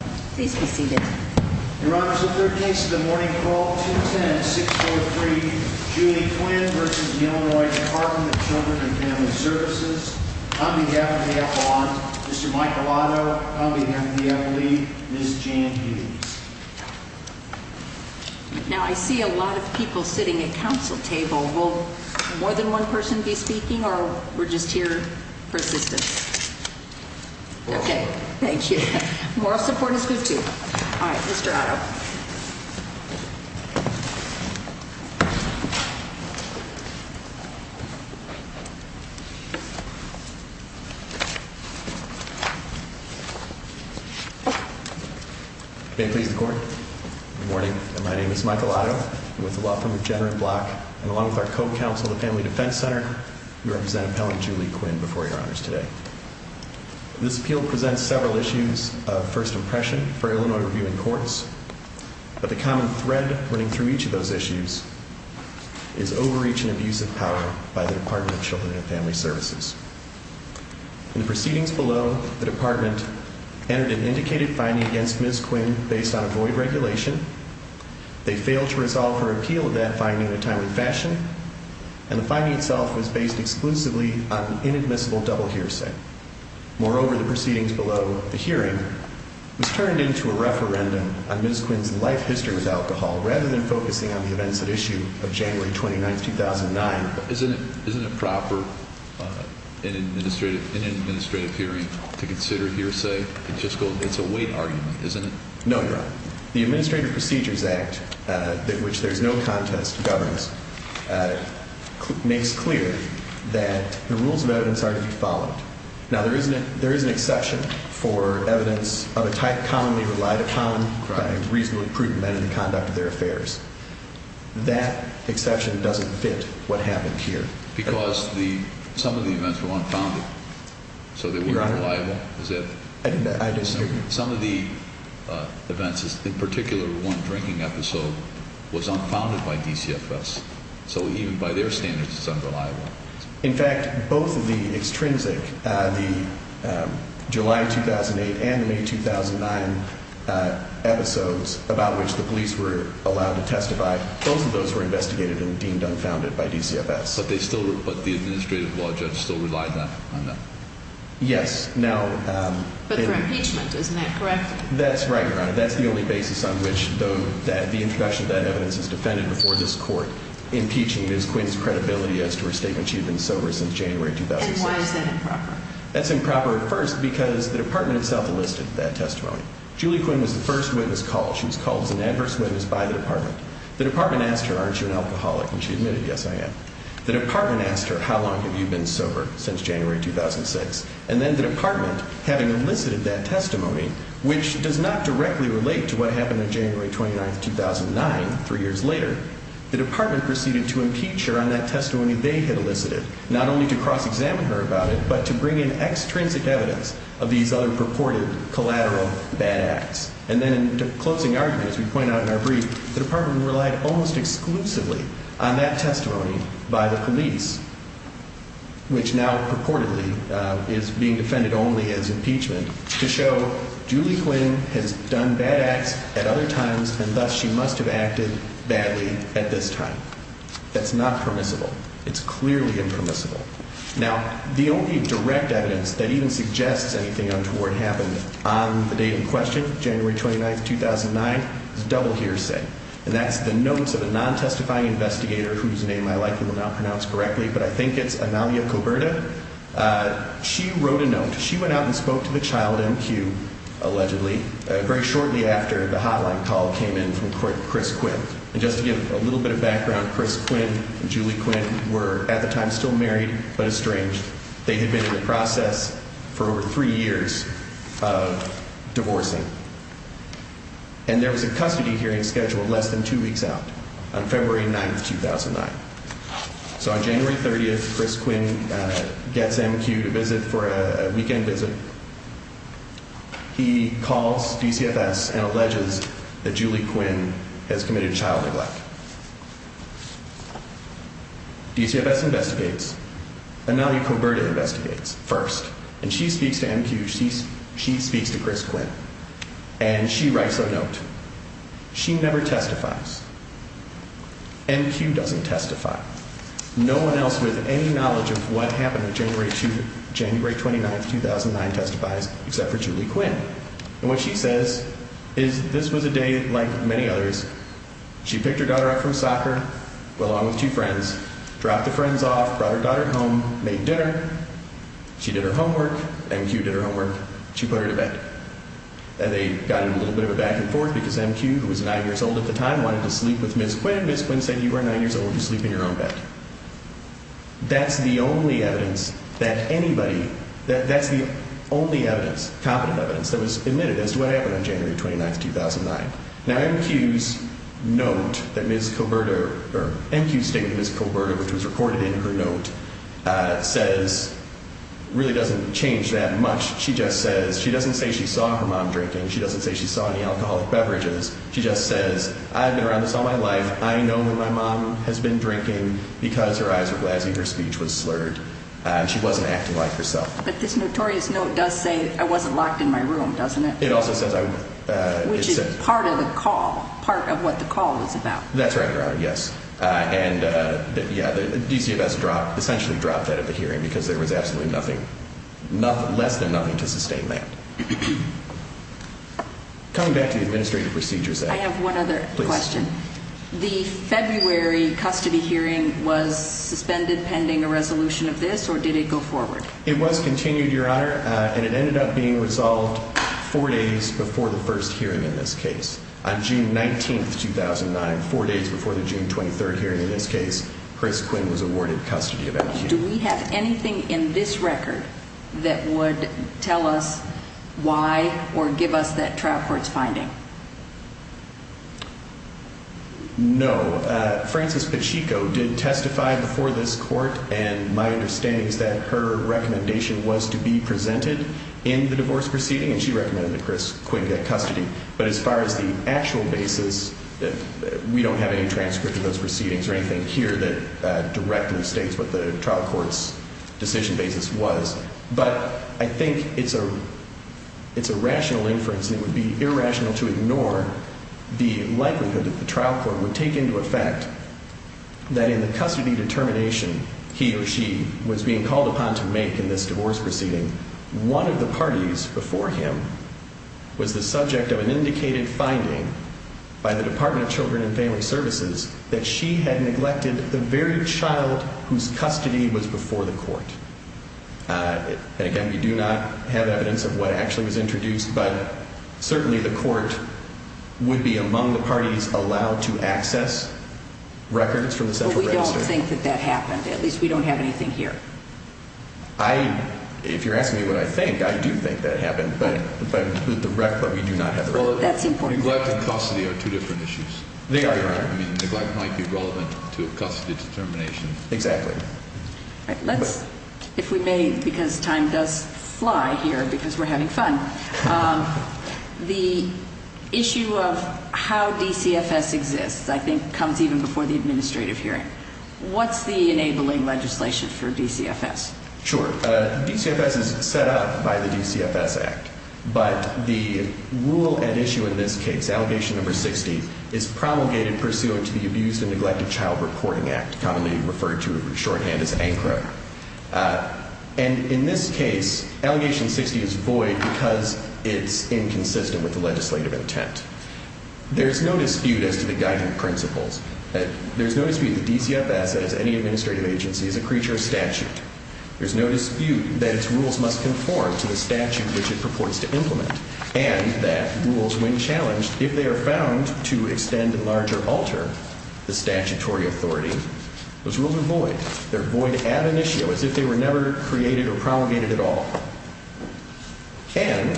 Please be seated. Your Honor, the third case of the morning call 210-643 Julie Quinn v. Illinois Department of Children and Family Services. On behalf of AFON, Mr. Michelotto, on behalf of the FLE, Ms. Jan Hughes. Now I see a lot of people sitting at council table. Will more than one person be speaking or we're just here persistent? Okay, thank you. Moral support is good too. All right, Mr. Otto. May please the court. Good morning. My name is Michael Otto with the law firm of Jenner and Block. And along with our co-counsel, the Family Defense Center, we represent appellant Julie Quinn before your honors today. This appeal presents several issues of first impression for Illinois Review and Courts. But the common thread running through each of those issues is overreach and abuse of power by the Department of Children and Family Services. In the proceedings below, the department entered an indicated finding against Ms. Quinn based on a void regulation. They failed to resolve her appeal of that finding in a timely fashion. And the finding itself was based exclusively on an inadmissible double hearsay. Moreover, the proceedings below the hearing was turned into a referendum on Ms. Quinn's life history with alcohol rather than focusing on the events at issue of January 29, 2009. Isn't it proper in an administrative hearing to consider hearsay? It's a weight argument, isn't it? No, Your Honor. The Administrative Procedures Act, which there's no contest to governance, makes clear that the rules of evidence are to be followed. Now, there is an exception for evidence of a type commonly relied upon by reasonably prudent men in the conduct of their affairs. That exception doesn't fit what happened here. Because some of the events were unfounded. So they were unreliable. I disagree. Some of the events, in particular one drinking episode, was unfounded by DCFS. So even by their standards, it's unreliable. In fact, both of the extrinsic, the July 2008 and the May 2009 episodes about which the police were allowed to testify, both of those were investigated and deemed unfounded by DCFS. But the administrative law judge still relied on that? Yes. Now... But for impeachment, isn't that correct? That's right, Your Honor. That's the only basis on which the introduction of that evidence is defended before this court impeaching Ms. Quinn's credibility as to her statement she had been sober since January 2006. And why is that improper? That's improper at first because the Department itself enlisted that testimony. Julie Quinn was the first witness called. She was called as an adverse witness by the Department. The Department asked her, aren't you an alcoholic? And she admitted, yes, I am. The Department asked her, how long have you been sober since January 2006? And then the Department, having elicited that testimony, which does not directly relate to what happened on January 29, 2009, three years later, the Department proceeded to impeach her on that testimony they had elicited, not only to cross-examine her about it, but to bring in extrinsic evidence of these other purported collateral bad acts. And then in closing argument, as we point out in our brief, the Department relied almost exclusively on that testimony by the police, which now purportedly is being defended only as impeachment, to show Julie Quinn has done bad acts at other times and thus she must have acted badly at this time. That's not permissible. It's clearly impermissible. Now, the only direct evidence that even suggests anything untoward happened on the date in question, January 29, 2009, is double hearsay. And that's the notes of a non-testifying investigator whose name I likely will not pronounce correctly, but I think it's Analia Coberta. She wrote a note. She went out and spoke to the child MQ, allegedly, very shortly after the hotline call came in from Chris Quinn. And just to give a little bit of background, Chris Quinn and Julie Quinn were at the time still married but estranged. They had been in the process for over three years of divorcing. And there was a custody hearing scheduled less than two weeks out on February 9, 2009. So on January 30th, Chris Quinn gets MQ to visit for a weekend visit. He calls DCFS and alleges that Julie Quinn has committed child neglect. DCFS investigates. Analia Coberta investigates first. And she speaks to MQ. She speaks to Chris Quinn. And she writes a note. She never testifies. MQ doesn't testify. No one else with any knowledge of what happened on January 29, 2009 testifies except for Julie Quinn. And what she says is this was a day like many others. She picked her daughter up from soccer, went along with two friends, dropped the friends off, brought her daughter home, made dinner. She did her homework. MQ did her homework. She put her to bed. And they got in a little bit of a back and forth because MQ, who was nine years old at the time, wanted to sleep with Ms. Quinn. Ms. Quinn said you are nine years old. You sleep in your own bed. That's the only evidence that anybody, that's the only evidence, competent evidence that was admitted as to what happened on January 29, 2009. Now MQ's note that Ms. Coberta, or MQ's statement that Ms. Coberta, which was recorded in her note, says really doesn't change that much. She just says, she doesn't say she saw her mom drinking. She doesn't say she saw any alcoholic beverages. She just says I've been around this all my life. I know when my mom has been drinking because her eyes were glazzy, her speech was slurred, and she wasn't acting like herself. But this notorious note does say I wasn't locked in my room, doesn't it? It also says I was. Which is part of the call, part of what the call was about. That's right, Your Honor, yes. And yeah, the DCFS essentially dropped that at the hearing because there was absolutely nothing, less than nothing to sustain that. Coming back to the Administrative Procedures Act. I have one other question. Please. The February custody hearing was suspended pending a resolution of this, or did it go forward? It was continued, Your Honor, and it ended up being resolved four days before the first hearing in this case. On June 19, 2009, four days before the June 23 hearing in this case, Chris Quinn was awarded custody of MQ. Do we have anything in this record that would tell us why or give us that trial court's finding? No. Frances Pacheco did testify before this court, and my understanding is that her recommendation was to be presented in the divorce proceeding, and she recommended that Chris Quinn get custody. But as far as the actual basis, we don't have any transcript of those proceedings or anything here that directly states what the trial court's decision basis was. But I think it's a rational inference, and it would be irrational to ignore the likelihood that the trial court would take into effect that in the custody determination he or she was being called upon to make in this divorce proceeding, one of the parties before him was the subject of an indicated finding by the Department of Children and Family Services that she had neglected the very child whose custody was before the court. And, again, we do not have evidence of what actually was introduced, but certainly the court would be among the parties allowed to access records from the Central Register. But we don't think that that happened. At least we don't have anything here. If you're asking me what I think, I do think that it happened, but we do not have records. Well, that's important. Neglect and custody are two different issues. I mean, neglect might be relevant to a custody determination. Exactly. All right. Let's, if we may, because time does fly here because we're having fun, the issue of how DCFS exists I think comes even before the administrative hearing. What's the enabling legislation for DCFS? Sure. DCFS is set up by the DCFS Act. But the rule at issue in this case, Allegation No. 60, is promulgated pursuant to the Abused and Neglected Child Reporting Act, commonly referred to shorthand as ANCRA. And in this case, Allegation 60 is void because it's inconsistent with the legislative intent. There's no dispute as to the guiding principles. There's no dispute that DCFS, as any administrative agency, is a creature of statute. There's no dispute that its rules must conform to the statute which it purports to implement, and that rules, when challenged, if they are found to extend, enlarge, or alter the statutory authority, those rules are void. They're void ad initio, as if they were never created or promulgated at all. And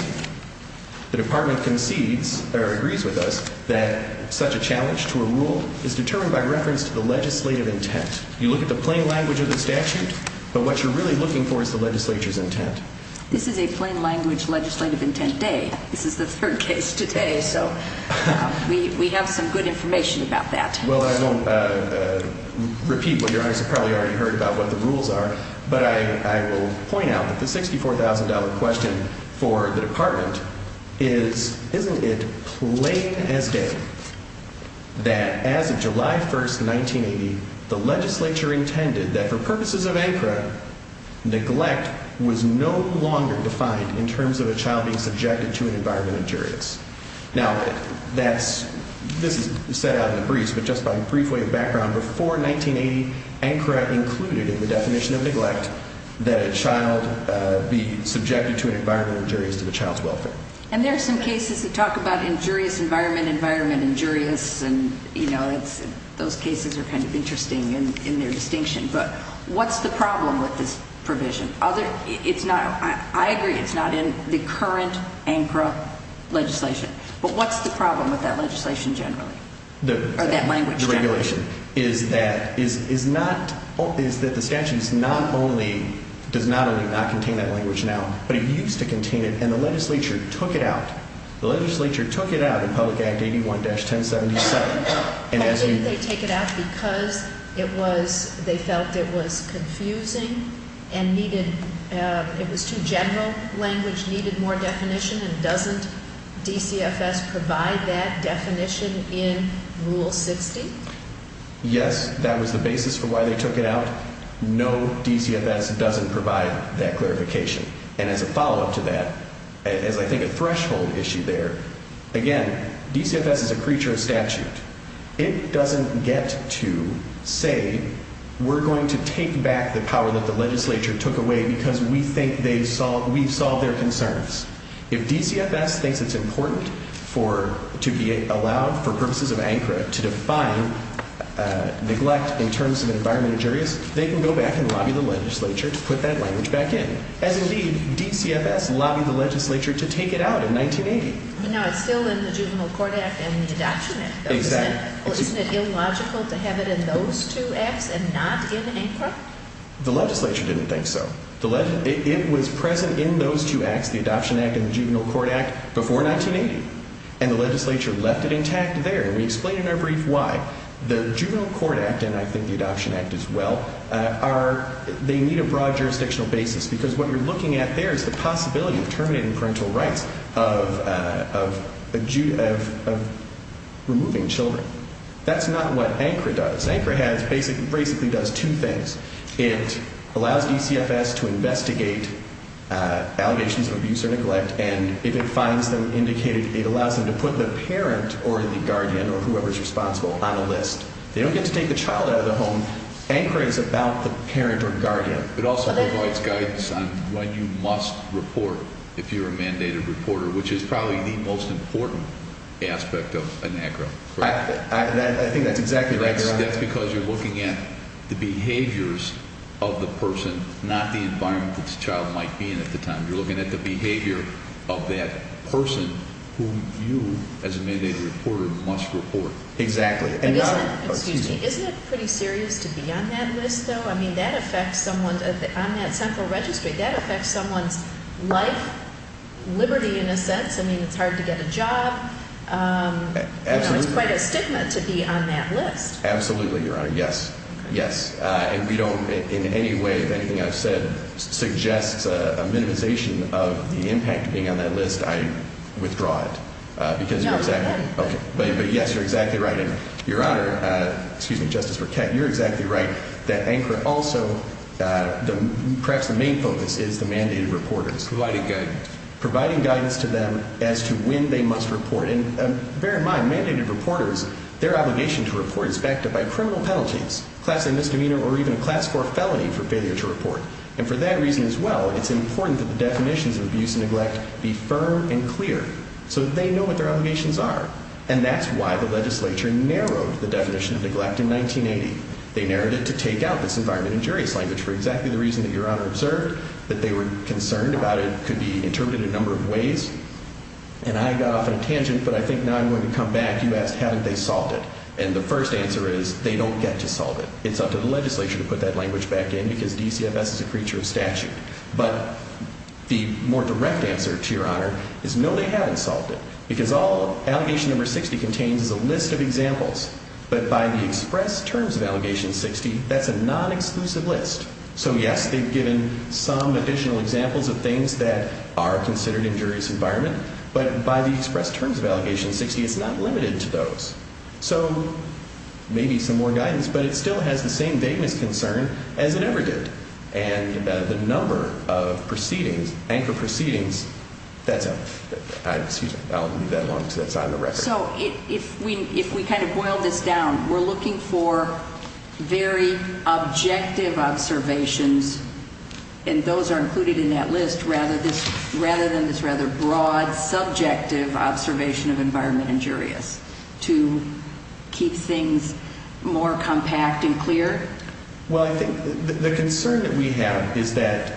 the Department concedes, or agrees with us, that such a challenge to a rule is determined by reference to the legislative intent. You look at the plain language of the statute, but what you're really looking for is the legislature's intent. This is a plain language legislative intent day. This is the third case today, so we have some good information about that. Well, I won't repeat what Your Honor has probably already heard about what the rules are, but I will point out that the $64,000 question for the Department is, isn't it plain as day that as of July 1st, 1980, the legislature intended that for purposes of ANCRA, neglect was no longer defined in terms of a child being subjected to an environmental injurious? Now, this is set out in the briefs, but just by a brief way of background, before 1980, ANCRA included in the definition of neglect that a child be subjected to an environmental injurious to the child's welfare. And there are some cases that talk about injurious environment, environment injurious, and those cases are kind of interesting in their distinction, but what's the problem with this provision? I agree it's not in the current ANCRA legislation, but what's the problem with that legislation generally? Or that language generally? The regulation is that the statute does not only not contain that language now, but it used to contain it, and the legislature took it out. The legislature took it out in Public Act 81-1077, and as you- Because they felt it was confusing and needed, it was too general, language needed more definition, and doesn't DCFS provide that definition in Rule 60? Yes, that was the basis for why they took it out. No, DCFS doesn't provide that clarification. And as a follow-up to that, as I think a threshold issue there, again, DCFS is a creature of statute. It doesn't get to say, we're going to take back the power that the legislature took away because we think we've solved their concerns. If DCFS thinks it's important to be allowed, for purposes of ANCRA, to define neglect in terms of environment injurious, they can go back and lobby the legislature to put that language back in. As indeed, DCFS lobbied the legislature to take it out in 1980. Now, it's still in the Juvenile Court Act and the Adoption Act. Exactly. Isn't it illogical to have it in those two acts and not in ANCRA? The legislature didn't think so. It was present in those two acts, the Adoption Act and the Juvenile Court Act, before 1980, and the legislature left it intact there, and we explain in our brief why. The Juvenile Court Act, and I think the Adoption Act as well, are, they need a broad jurisdictional basis, because what you're looking at there is the possibility of terminating parental rights, of removing children. That's not what ANCRA does. ANCRA basically does two things. It allows DCFS to investigate allegations of abuse or neglect, and if it finds them indicated, it allows them to put the parent or the guardian or whoever's responsible on a list. They don't get to take the child out of the home. ANCRA is about the parent or guardian. It also provides guidance on when you must report if you're a mandated reporter, which is probably the most important aspect of ANCRA, correct? I think that's exactly right, Your Honor. That's because you're looking at the behaviors of the person, not the environment that the child might be in at the time. You're looking at the behavior of that person who you, as a mandated reporter, must report. Exactly. Isn't it pretty serious to be on that list, though? I mean, that affects someone on that central registry. That affects someone's life, liberty in a sense. I mean, it's hard to get a job. Absolutely. It's quite a stigma to be on that list. Absolutely, Your Honor. Yes. Yes. And we don't, in any way, if anything I've said suggests a minimization of the impact of being on that list, I withdraw it because you're exactly right. No, we wouldn't. But yes, you're exactly right. Your Honor, excuse me, Justice Burkett, you're exactly right that ANCRA also, perhaps the main focus is the mandated reporters. Providing guidance. Providing guidance to them as to when they must report. And bear in mind, mandated reporters, their obligation to report is backed up by criminal penalties, class A misdemeanor, or even a class 4 felony for failure to report. And for that reason as well, it's important that the definitions of abuse and neglect be firm and clear so that they know what their obligations are. And that's why the legislature narrowed the definition of neglect in 1980. They narrowed it to take out this environment injurious language for exactly the reason that Your Honor observed, that they were concerned about it could be interpreted a number of ways. And I got off on a tangent, but I think now I'm going to come back. You asked haven't they solved it. And the first answer is they don't get to solve it. It's up to the legislature to put that language back in because DCFS is a creature of statute. But the more direct answer to Your Honor is no, they haven't solved it. Because all Allegation No. 60 contains is a list of examples. But by the express terms of Allegation 60, that's a non-exclusive list. So, yes, they've given some additional examples of things that are considered injurious environment. But by the express terms of Allegation 60, it's not limited to those. So maybe some more guidance, but it still has the same vagueness concern as it ever did. And the number of proceedings, anchor proceedings, that's up. Excuse me. I'll leave that alone because that's not on the record. So if we kind of boil this down, we're looking for very objective observations, and those are included in that list rather than this rather broad, subjective observation of environment injurious to keep things more compact and clear? Well, I think the concern that we have is that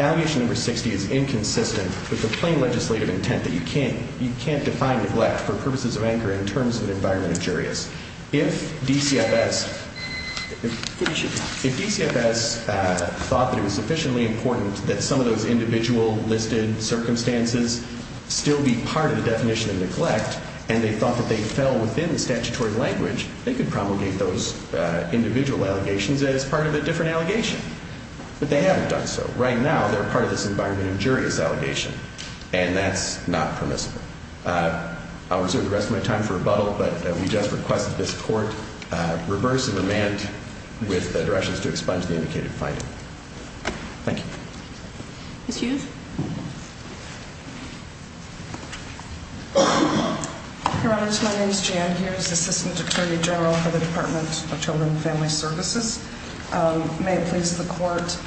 Allegation No. 60 is inconsistent with the plain legislative intent that you can't define neglect for purposes of anchor in terms of environment injurious. If DCFS thought that it was sufficiently important that some of those individual listed circumstances still be part of the definition of neglect, and they thought that they fell within the statutory language, they could promulgate those individual allegations as part of a different allegation. But they haven't done so. Right now, they're part of this environment injurious allegation, and that's not permissible. I'll reserve the rest of my time for rebuttal, but we just request that this court reverse and amend with directions to expunge the indicated finding. Thank you. Ms. Youth? Your Honors, my name is Jan Hughes, Assistant Attorney General for the Department of Children and Family Services. May it please the Court,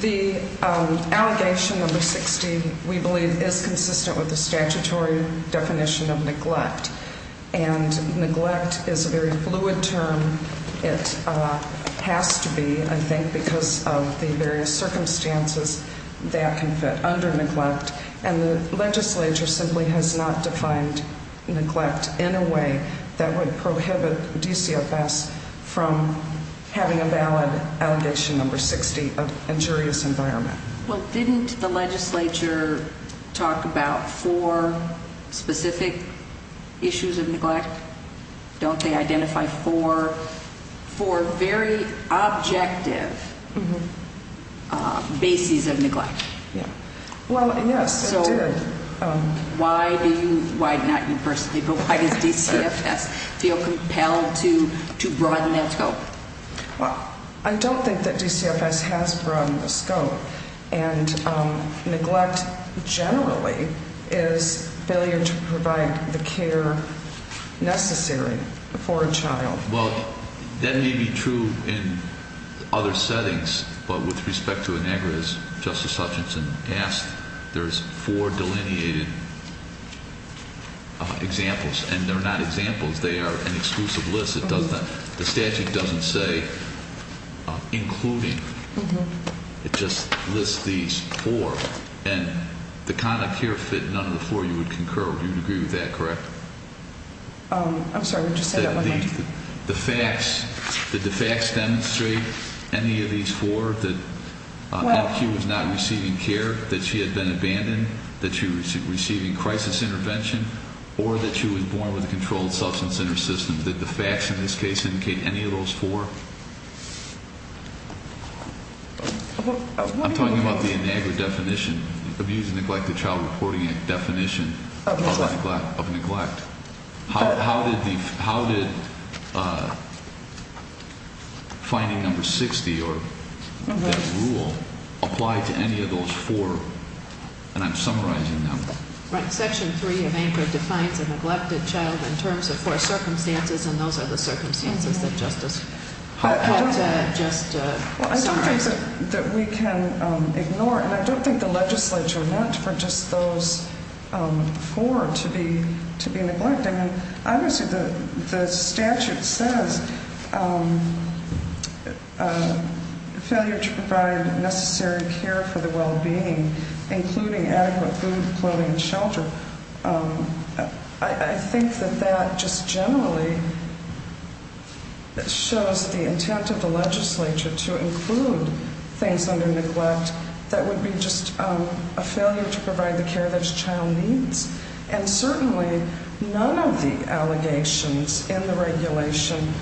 the Allegation No. 60 we believe is consistent with the statutory definition of neglect, and neglect is a very fluid term. It has to be, I think, because of the various circumstances that can fit under neglect, and the legislature simply has not defined neglect in a way that would prohibit DCFS from having a valid Allegation No. 60 of injurious environment. Well, didn't the legislature talk about four specific issues of neglect? Don't they identify four very objective bases of neglect? Well, yes, they did. Why do you, not you personally, but why does DCFS feel compelled to broaden that scope? Well, I don't think that DCFS has broadened the scope, and neglect generally is failure to provide the care necessary for a child. Well, that may be true in other settings, but with respect to Inegrita, as Justice Hutchinson asked, there's four delineated examples, and they're not examples. They are an exclusive list. The statute doesn't say including. It just lists these four, and the conduct here fit none of the four you would concur with. You would agree with that, correct? I'm sorry. Would you say that one more time? The facts, did the facts demonstrate any of these four, that LQ was not receiving care, that she had been abandoned, that she was receiving crisis intervention, or that she was born with a controlled substance in her system? Did the facts in this case indicate any of those four? I'm talking about the Inegrita definition, the Abuse and Neglect of Child Reporting Act definition of neglect. How did finding number 60, or that rule, apply to any of those four? And I'm summarizing them. Right. Section 3 of Inegrita defines a neglected child in terms of four circumstances, and those are the circumstances that Justice Hoppe had just summarized. Well, I don't think that we can ignore, and I don't think the legislature meant for just those four to be neglected. I mean, obviously the statute says failure to provide necessary care for the well-being, including adequate food, clothing, and shelter. I think that that just generally shows the intent of the legislature to include things under neglect that would be just a failure to provide the care that a child needs. And certainly none of the allegations in the regulation,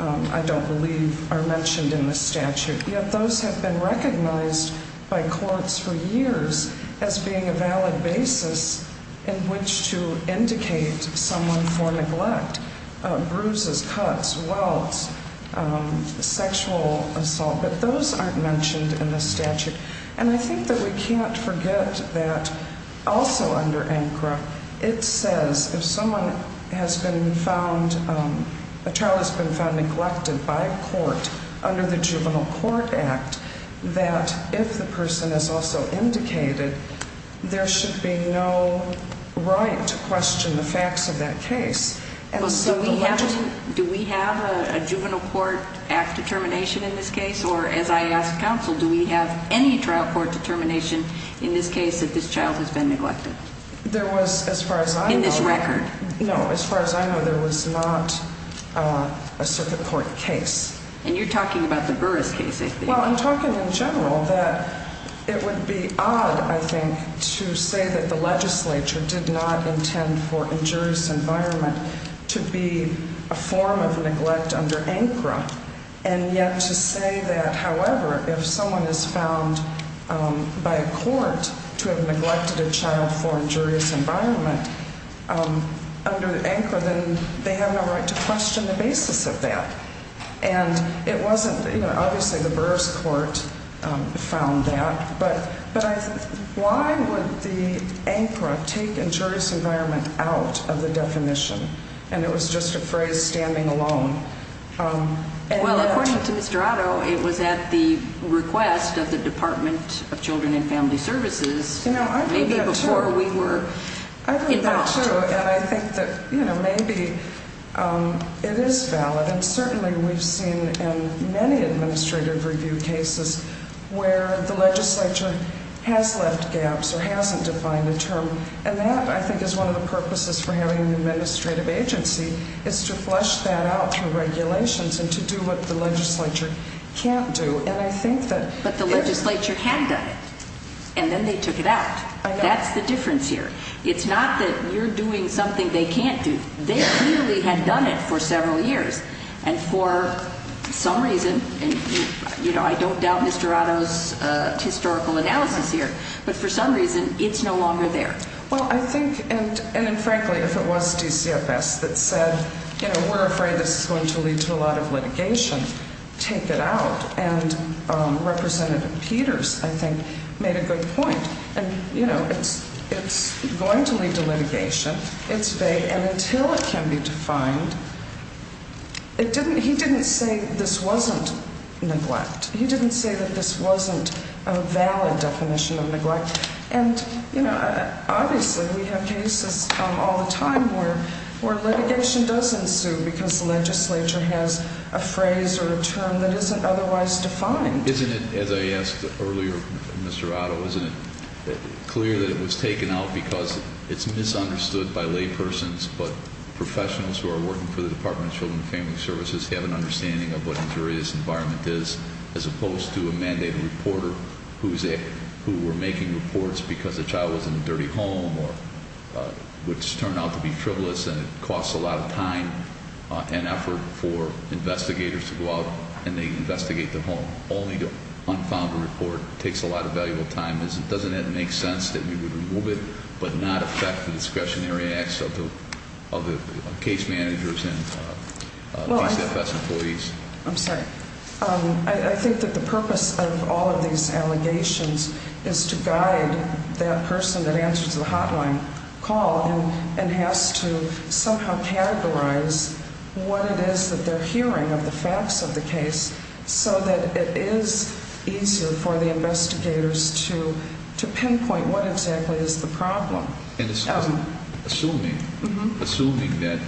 I don't believe, are mentioned in the statute. Yet those have been recognized by courts for years as being a valid basis in which to indicate someone for neglect. Bruises, cuts, welts, sexual assault, but those aren't mentioned in the statute. And I think that we can't forget that also under ANCRA, it says if someone has been found, a child has been found neglected by a court under the Juvenile Court Act, that if the person is also indicated, there should be no right to question the facts of that case. Do we have a Juvenile Court Act determination in this case, or as I asked counsel, do we have any trial court determination in this case that this child has been neglected? There was, as far as I know... In this record? No, as far as I know, there was not a circuit court case. And you're talking about the Burris case, I think. Well, I'm talking in general that it would be odd, I think, to say that the legislature did not intend for injurious environment to be a form of neglect under ANCRA. And yet to say that, however, if someone is found by a court to have neglected a child for injurious environment under ANCRA, then they have no right to question the basis of that. And it wasn't, you know, obviously the Burris court found that, but why would the ANCRA take injurious environment out of the definition? And it was just a phrase standing alone. Well, according to Mr. Otto, it was at the request of the Department of Children and Family Services, maybe before we were involved. That's true, and I think that, you know, maybe it is valid. And certainly we've seen in many administrative review cases where the legislature has left gaps or hasn't defined a term. And that, I think, is one of the purposes for having an administrative agency is to flush that out through regulations and to do what the legislature can't do. And I think that... But the legislature had done it. And then they took it out. I know. That's the difference here. It's not that you're doing something they can't do. They clearly had done it for several years. And for some reason, you know, I don't doubt Mr. Otto's historical analysis here, but for some reason, it's no longer there. Well, I think, and frankly, if it was DCFS that said, you know, we're afraid this is going to lead to a lot of litigation, take it out. And Representative Peters, I think, made a good point. And, you know, it's going to lead to litigation. It's vague. And until it can be defined, he didn't say this wasn't neglect. He didn't say that this wasn't a valid definition of neglect. And, you know, obviously we have cases all the time where litigation does ensue because the legislature has a phrase or a term that isn't otherwise defined. Isn't it, as I asked earlier, Mr. Otto, isn't it clear that it was taken out because it's misunderstood by laypersons, but professionals who are working for the Department of Children and Family Services have an understanding of what an injurious environment is, as opposed to a mandated reporter who were making reports because the child was in a dirty home, which turned out to be frivolous and it costs a lot of time and effort for investigators to go out and investigate the home. Only to unfound a report takes a lot of valuable time. Doesn't it make sense that we would remove it but not affect the discretionary acts of the case managers and DCFS employees? I'm sorry. I think that the purpose of all of these allegations is to guide that person that answers the hotline call and has to somehow categorize what it is that they're hearing of the facts of the case so that it is easier for the investigators to pinpoint what exactly is the problem. Assuming that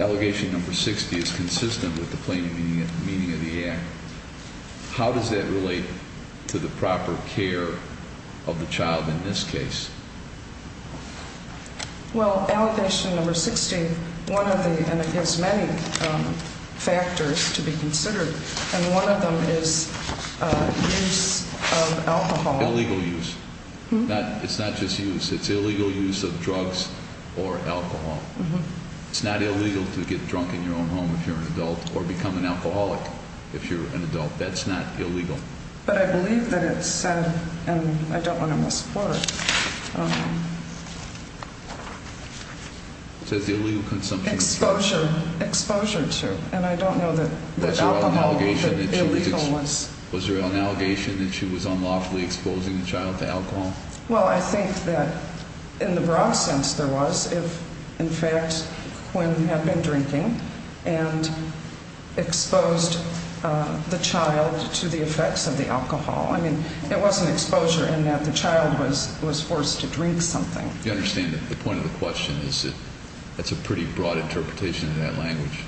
allegation number 60 is consistent with the plain meaning of the act, how does that relate to the proper care of the child in this case? Well, allegation number 60, one of the, and it has many factors to be considered, and one of them is use of alcohol. Illegal use. It's not just use. It's illegal use of drugs or alcohol. It's not illegal to get drunk in your own home if you're an adult or become an alcoholic if you're an adult. That's not illegal. But I believe that it said, and I don't want to misquote it. It says illegal consumption of alcohol. Exposure to, and I don't know that alcohol was illegal. Was there an allegation that she was unlawfully exposing the child to alcohol? Well, I think that in the broad sense there was if, in fact, Quinn had been drinking and exposed the child to the effects of the alcohol. I mean, it wasn't exposure in that the child was forced to drink something. You understand that the point of the question is that that's a pretty broad interpretation of that language.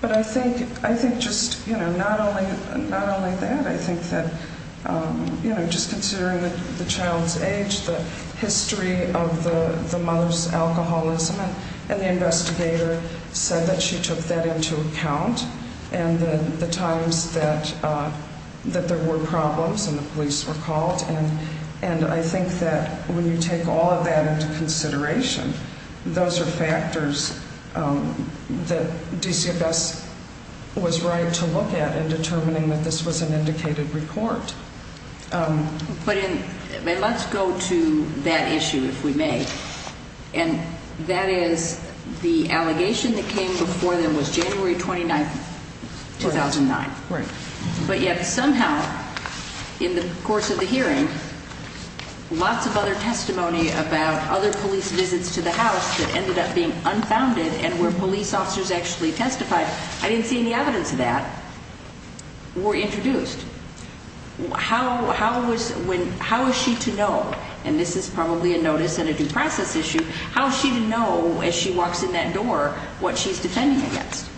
But I think just, you know, not only that, I think that, you know, just considering the child's age, the history of the mother's alcoholism, and the investigator said that she took that into account, and the times that there were problems and the police were called. And I think that when you take all of that into consideration, those are factors that DCFS was right to look at in determining that this was an indicated report. But let's go to that issue, if we may. And that is the allegation that came before them was January 29, 2009. Right. But yet somehow in the course of the hearing, lots of other testimony about other police visits to the house that ended up being unfounded and where police officers actually testified, I didn't see any evidence of that, were introduced. How is she to know, and this is probably a notice and a due process issue, how is she to know as she walks in that door what she's defending against?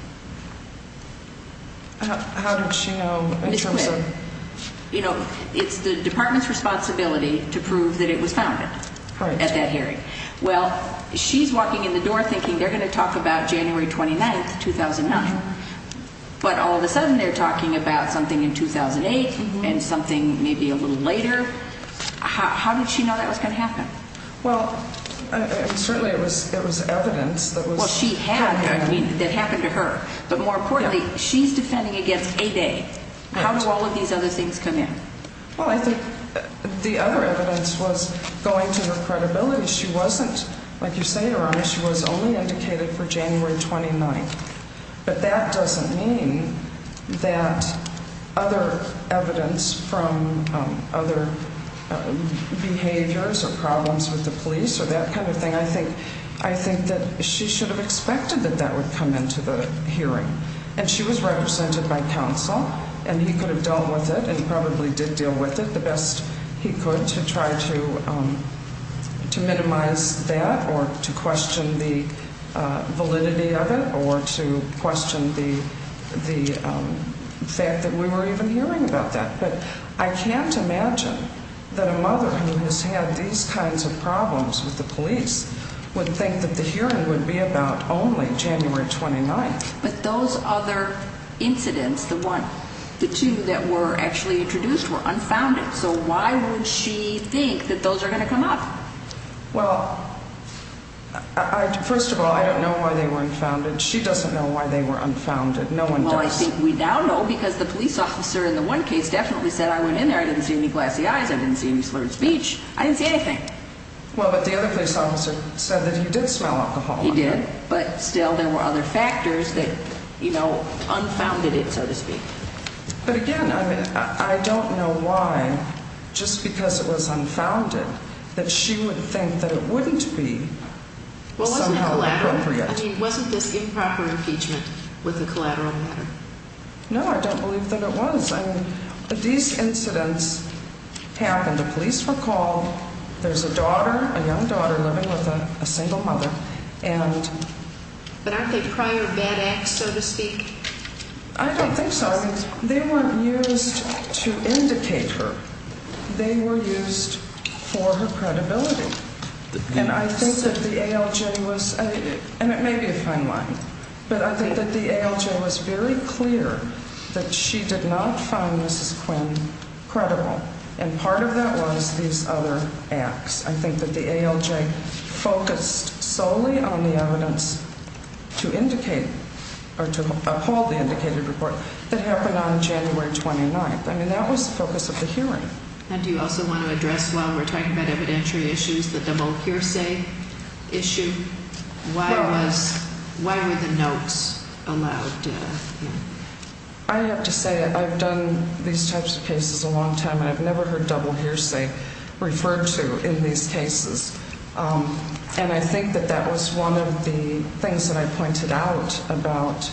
How did she know? You know, it's the department's responsibility to prove that it was founded at that hearing. Well, she's walking in the door thinking they're going to talk about January 29, 2009. But all of a sudden they're talking about something in 2008 and something maybe a little later. How did she know that was going to happen? Well, certainly it was evidence. Well, she had, I mean, that happened to her. But more importantly, she's defending against a day. How do all of these other things come in? Well, I think the other evidence was going to her credibility. She wasn't, like you say, Your Honor, she was only indicated for January 29. But that doesn't mean that other evidence from other behaviors or problems with the police or that kind of thing. I think that she should have expected that that would come into the hearing. And she was represented by counsel, and he could have dealt with it and probably did deal with it the best he could to try to minimize that or to question the validity of it or to question the fact that we were even hearing about that. But I can't imagine that a mother who has had these kinds of problems with the police would think that the hearing would be about only January 29. But those other incidents, the two that were actually introduced, were unfounded. So why would she think that those are going to come up? Well, first of all, I don't know why they were unfounded. She doesn't know why they were unfounded. No one does. Well, I think we now know because the police officer in the one case definitely said, I went in there, I didn't see any glassy eyes, I didn't see any slurred speech, I didn't see anything. Well, but the other police officer said that he did smell alcohol. He did. But still, there were other factors that, you know, unfounded it, so to speak. But again, I don't know why, just because it was unfounded, that she would think that it wouldn't be somehow appropriate. I mean, wasn't this improper impeachment with the collateral matter? No, I don't believe that it was. I mean, these incidents happened. The police were called. There's a daughter, a young daughter, living with a single mother. But aren't they prior bad acts, so to speak? I don't think so. They weren't used to indicate her. They were used for her credibility. And I think that the ALJ was, and it may be a fine line, but I think that the ALJ was very clear that she did not find Mrs. Quinn credible. And part of that was these other acts. I think that the ALJ focused solely on the evidence to indicate or to uphold the indicated report that happened on January 29th. I mean, that was the focus of the hearing. And do you also want to address, while we're talking about evidentiary issues, the double hearsay issue? Why were the notes allowed? I have to say I've done these types of cases a long time, and I've never heard double hearsay referred to in these cases. And I think that that was one of the things that I pointed out about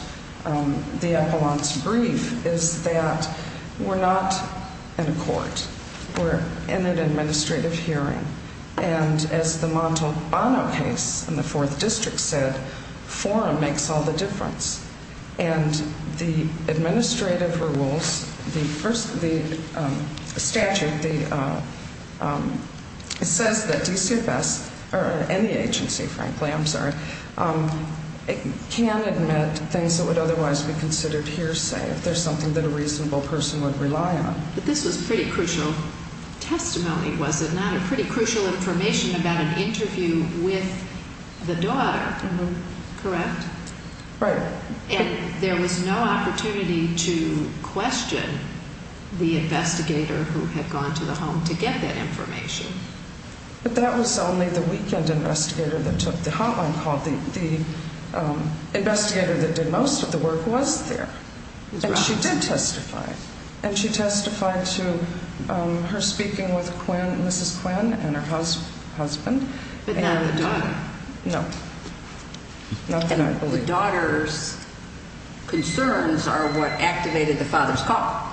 the Appellant's brief, is that we're not in a court. We're in an administrative hearing. And as the Montalbano case in the 4th District said, forum makes all the difference. And the administrative rules, the statute says that DCFS, or any agency, frankly, I'm sorry, can admit things that would otherwise be considered hearsay if there's something that a reasonable person would rely on. But this was pretty crucial testimony, was it not? Pretty crucial information about an interview with the daughter, correct? Right. And there was no opportunity to question the investigator who had gone to the home to get that information. But that was only the weekend investigator that took the hotline call. The investigator that did most of the work was there. And she did testify. And she testified to her speaking with Mrs. Quinn and her husband. But not the daughter. No. Nothing I believe. And the daughter's concerns are what activated the father's call.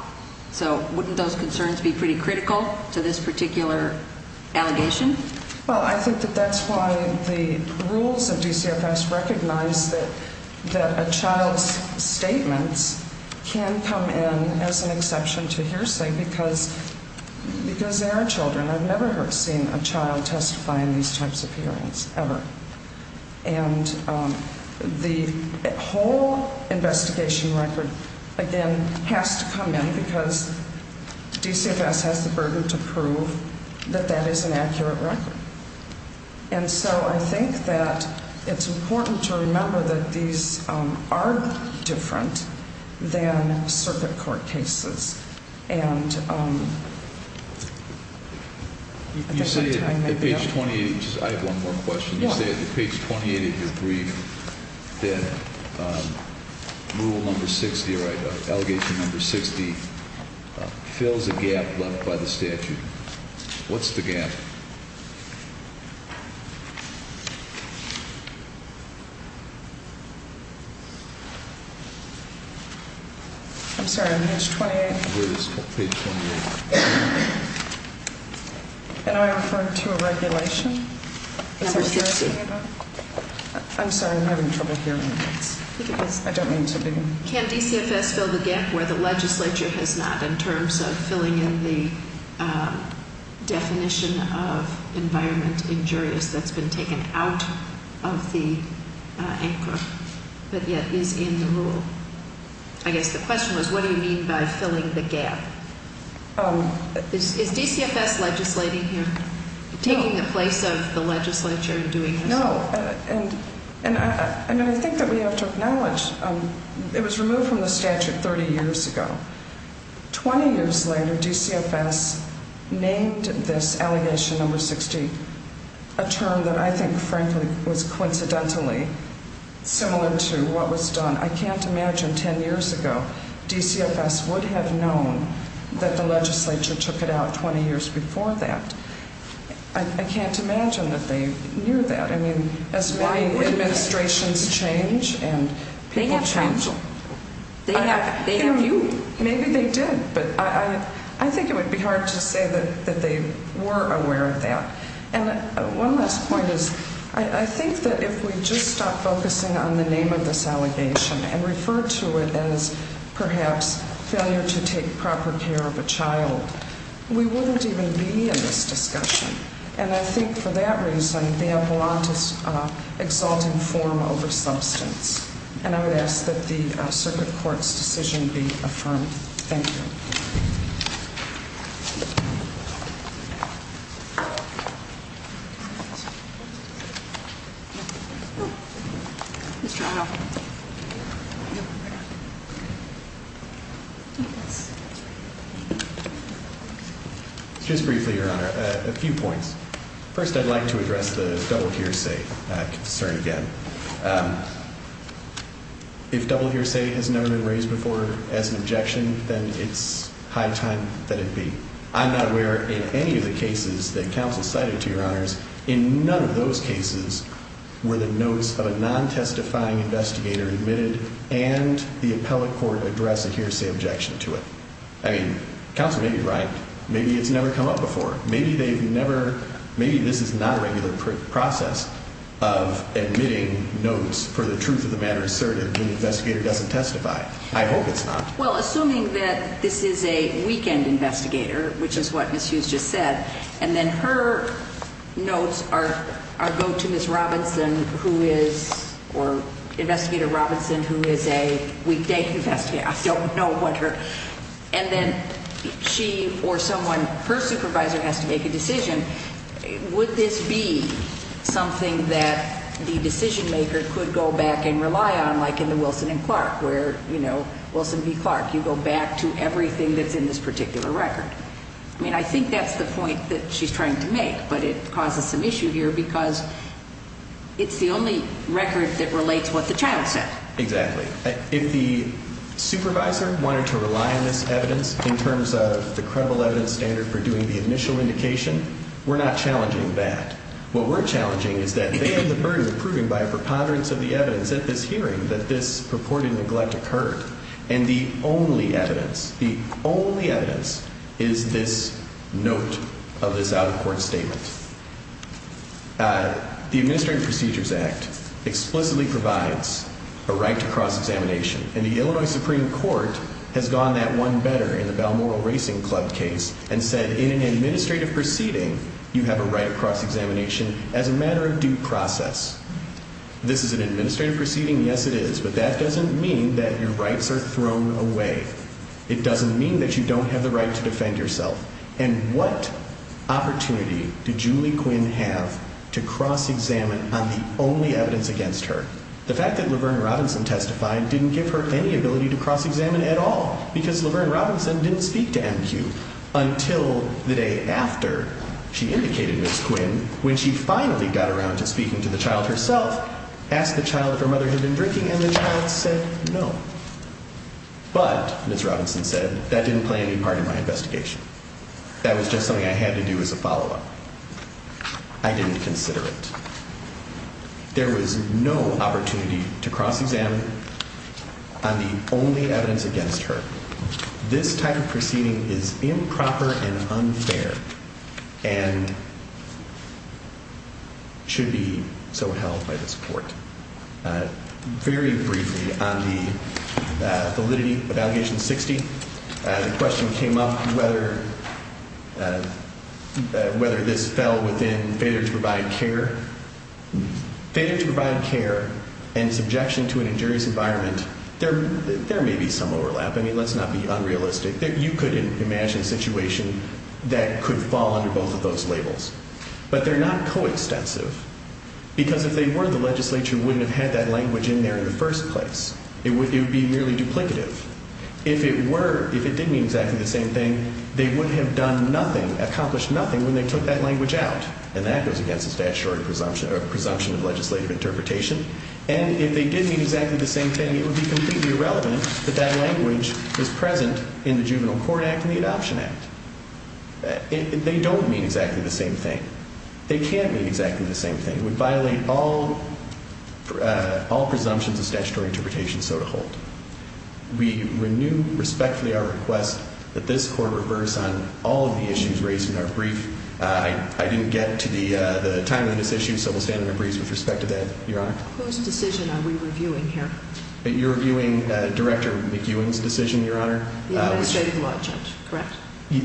So wouldn't those concerns be pretty critical to this particular allegation? Well, I think that that's why the rules of DCFS recognize that a child's statements can come in as an exception to hearsay because they are children. I've never seen a child testify in these types of hearings, ever. And the whole investigation record, again, has to come in because DCFS has the burden to prove that that is an accurate record. And so I think that it's important to remember that these are different than circuit court cases. You say at page 28, I have one more question, you say at page 28 of your brief that rule number 60 or allegation number 60 fills a gap left by the statute. What's the gap? I'm sorry, on page 28? Page 28. Can I refer to a regulation? Number 60. Is that what you're asking about? I'm sorry, I'm having trouble hearing this. I don't mean to be. Can DCFS fill the gap where the legislature has not in terms of filling in the definition of the statute? The definition of environment injurious that's been taken out of the ANCRA but yet is in the rule. I guess the question was what do you mean by filling the gap? Is DCFS legislating here? Taking the place of the legislature and doing this? No. And I think that we have to acknowledge it was removed from the statute 30 years ago. 20 years later DCFS named this allegation number 60 a term that I think frankly was coincidentally similar to what was done. I can't imagine 10 years ago DCFS would have known that the legislature took it out 20 years before that. I can't imagine that they knew that. I mean as many administrations change and people change. They have you. Maybe they did but I think it would be hard to say that they were aware of that. And one last point is I think that if we just stop focusing on the name of this allegation and refer to it as perhaps failure to take proper care of a child, we wouldn't even be in this discussion. And I think for that reason they have a lot of exalting form over substance. And I would ask that the Circuit Court's decision be affirmed. Thank you. Just briefly, Your Honor, a few points. First I'd like to address the double hearsay concern again. If double hearsay has never been raised before as an objection, then it's high time that it be. I'm not aware in any of the cases that counsel cited, Your Honors, in none of those cases were the notes of a non-testifying investigator admitted and the appellate court address a hearsay objection to it. I mean counsel may be right. Maybe it's never come up before. Maybe they've never – maybe this is not a regular process of admitting notes for the truth of the matter asserted when the investigator doesn't testify. I hope it's not. Well, assuming that this is a weekend investigator, which is what Ms. Hughes just said, and then her notes go to Ms. Robinson who is – or Investigator Robinson who is a weekday investigator. I don't know what her – And then she or someone – her supervisor has to make a decision. Would this be something that the decision maker could go back and rely on like in the Wilson v. Clark where, you know, Wilson v. Clark, you go back to everything that's in this particular record? I mean I think that's the point that she's trying to make, but it causes some issue here because it's the only record that relates what the child said. Exactly. If the supervisor wanted to rely on this evidence in terms of the credible evidence standard for doing the initial indication, we're not challenging that. What we're challenging is that they have the burden of proving by a preponderance of the evidence at this hearing that this purported neglect occurred. And the only evidence – the only evidence is this note of this out-of-court statement. The Administrative Procedures Act explicitly provides a right to cross-examination. And the Illinois Supreme Court has gone that one better in the Balmoral Racing Club case and said in an administrative proceeding you have a right to cross-examination as a matter of due process. This is an administrative proceeding, yes it is, but that doesn't mean that your rights are thrown away. It doesn't mean that you don't have the right to defend yourself. And what opportunity did Julie Quinn have to cross-examine on the only evidence against her? The fact that Laverne Robinson testified didn't give her any ability to cross-examine at all because Laverne Robinson didn't speak to MQ until the day after she indicated Ms. Quinn, when she finally got around to speaking to the child herself, asked the child if her mother had been drinking, and the child said no. But, Ms. Robinson said, that didn't play any part in my investigation. That was just something I had to do as a follow-up. I didn't consider it. There was no opportunity to cross-examine on the only evidence against her. This type of proceeding is improper and unfair and should be so held by this court. Very briefly on the validity of Allegation 60, the question came up whether this fell within failure to provide care. Failure to provide care and subjection to an injurious environment, there may be some overlap. I mean, let's not be unrealistic. You could imagine a situation that could fall under both of those labels. But they're not co-extensive. Because if they were, the legislature wouldn't have had that language in there in the first place. It would be merely duplicative. If it did mean exactly the same thing, they would have accomplished nothing when they took that language out. And that goes against the statutory presumption of legislative interpretation. And if they did mean exactly the same thing, it would be completely irrelevant that that language was present in the Juvenile Court Act and the Adoption Act. They don't mean exactly the same thing. They can't mean exactly the same thing. It would violate all presumptions of statutory interpretation, so to hold. We renew respectfully our request that this court reverse on all of the issues raised in our brief. I didn't get to the timing of this issue, so we'll stand in abreast with respect to that, Your Honor. Whose decision are we reviewing here? You're reviewing Director McEwen's decision, Your Honor. The administrative law judge, correct?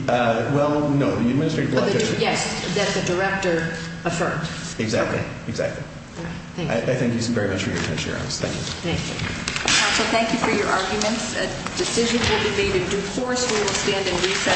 Well, no, the administrative law judge. Yes, that the director affirmed. Exactly, exactly. Thank you. I thank you very much for your attention, Your Honor. Thank you. Thank you. Counsel, thank you for your arguments. A decision will be made in due course. We will stand and reset.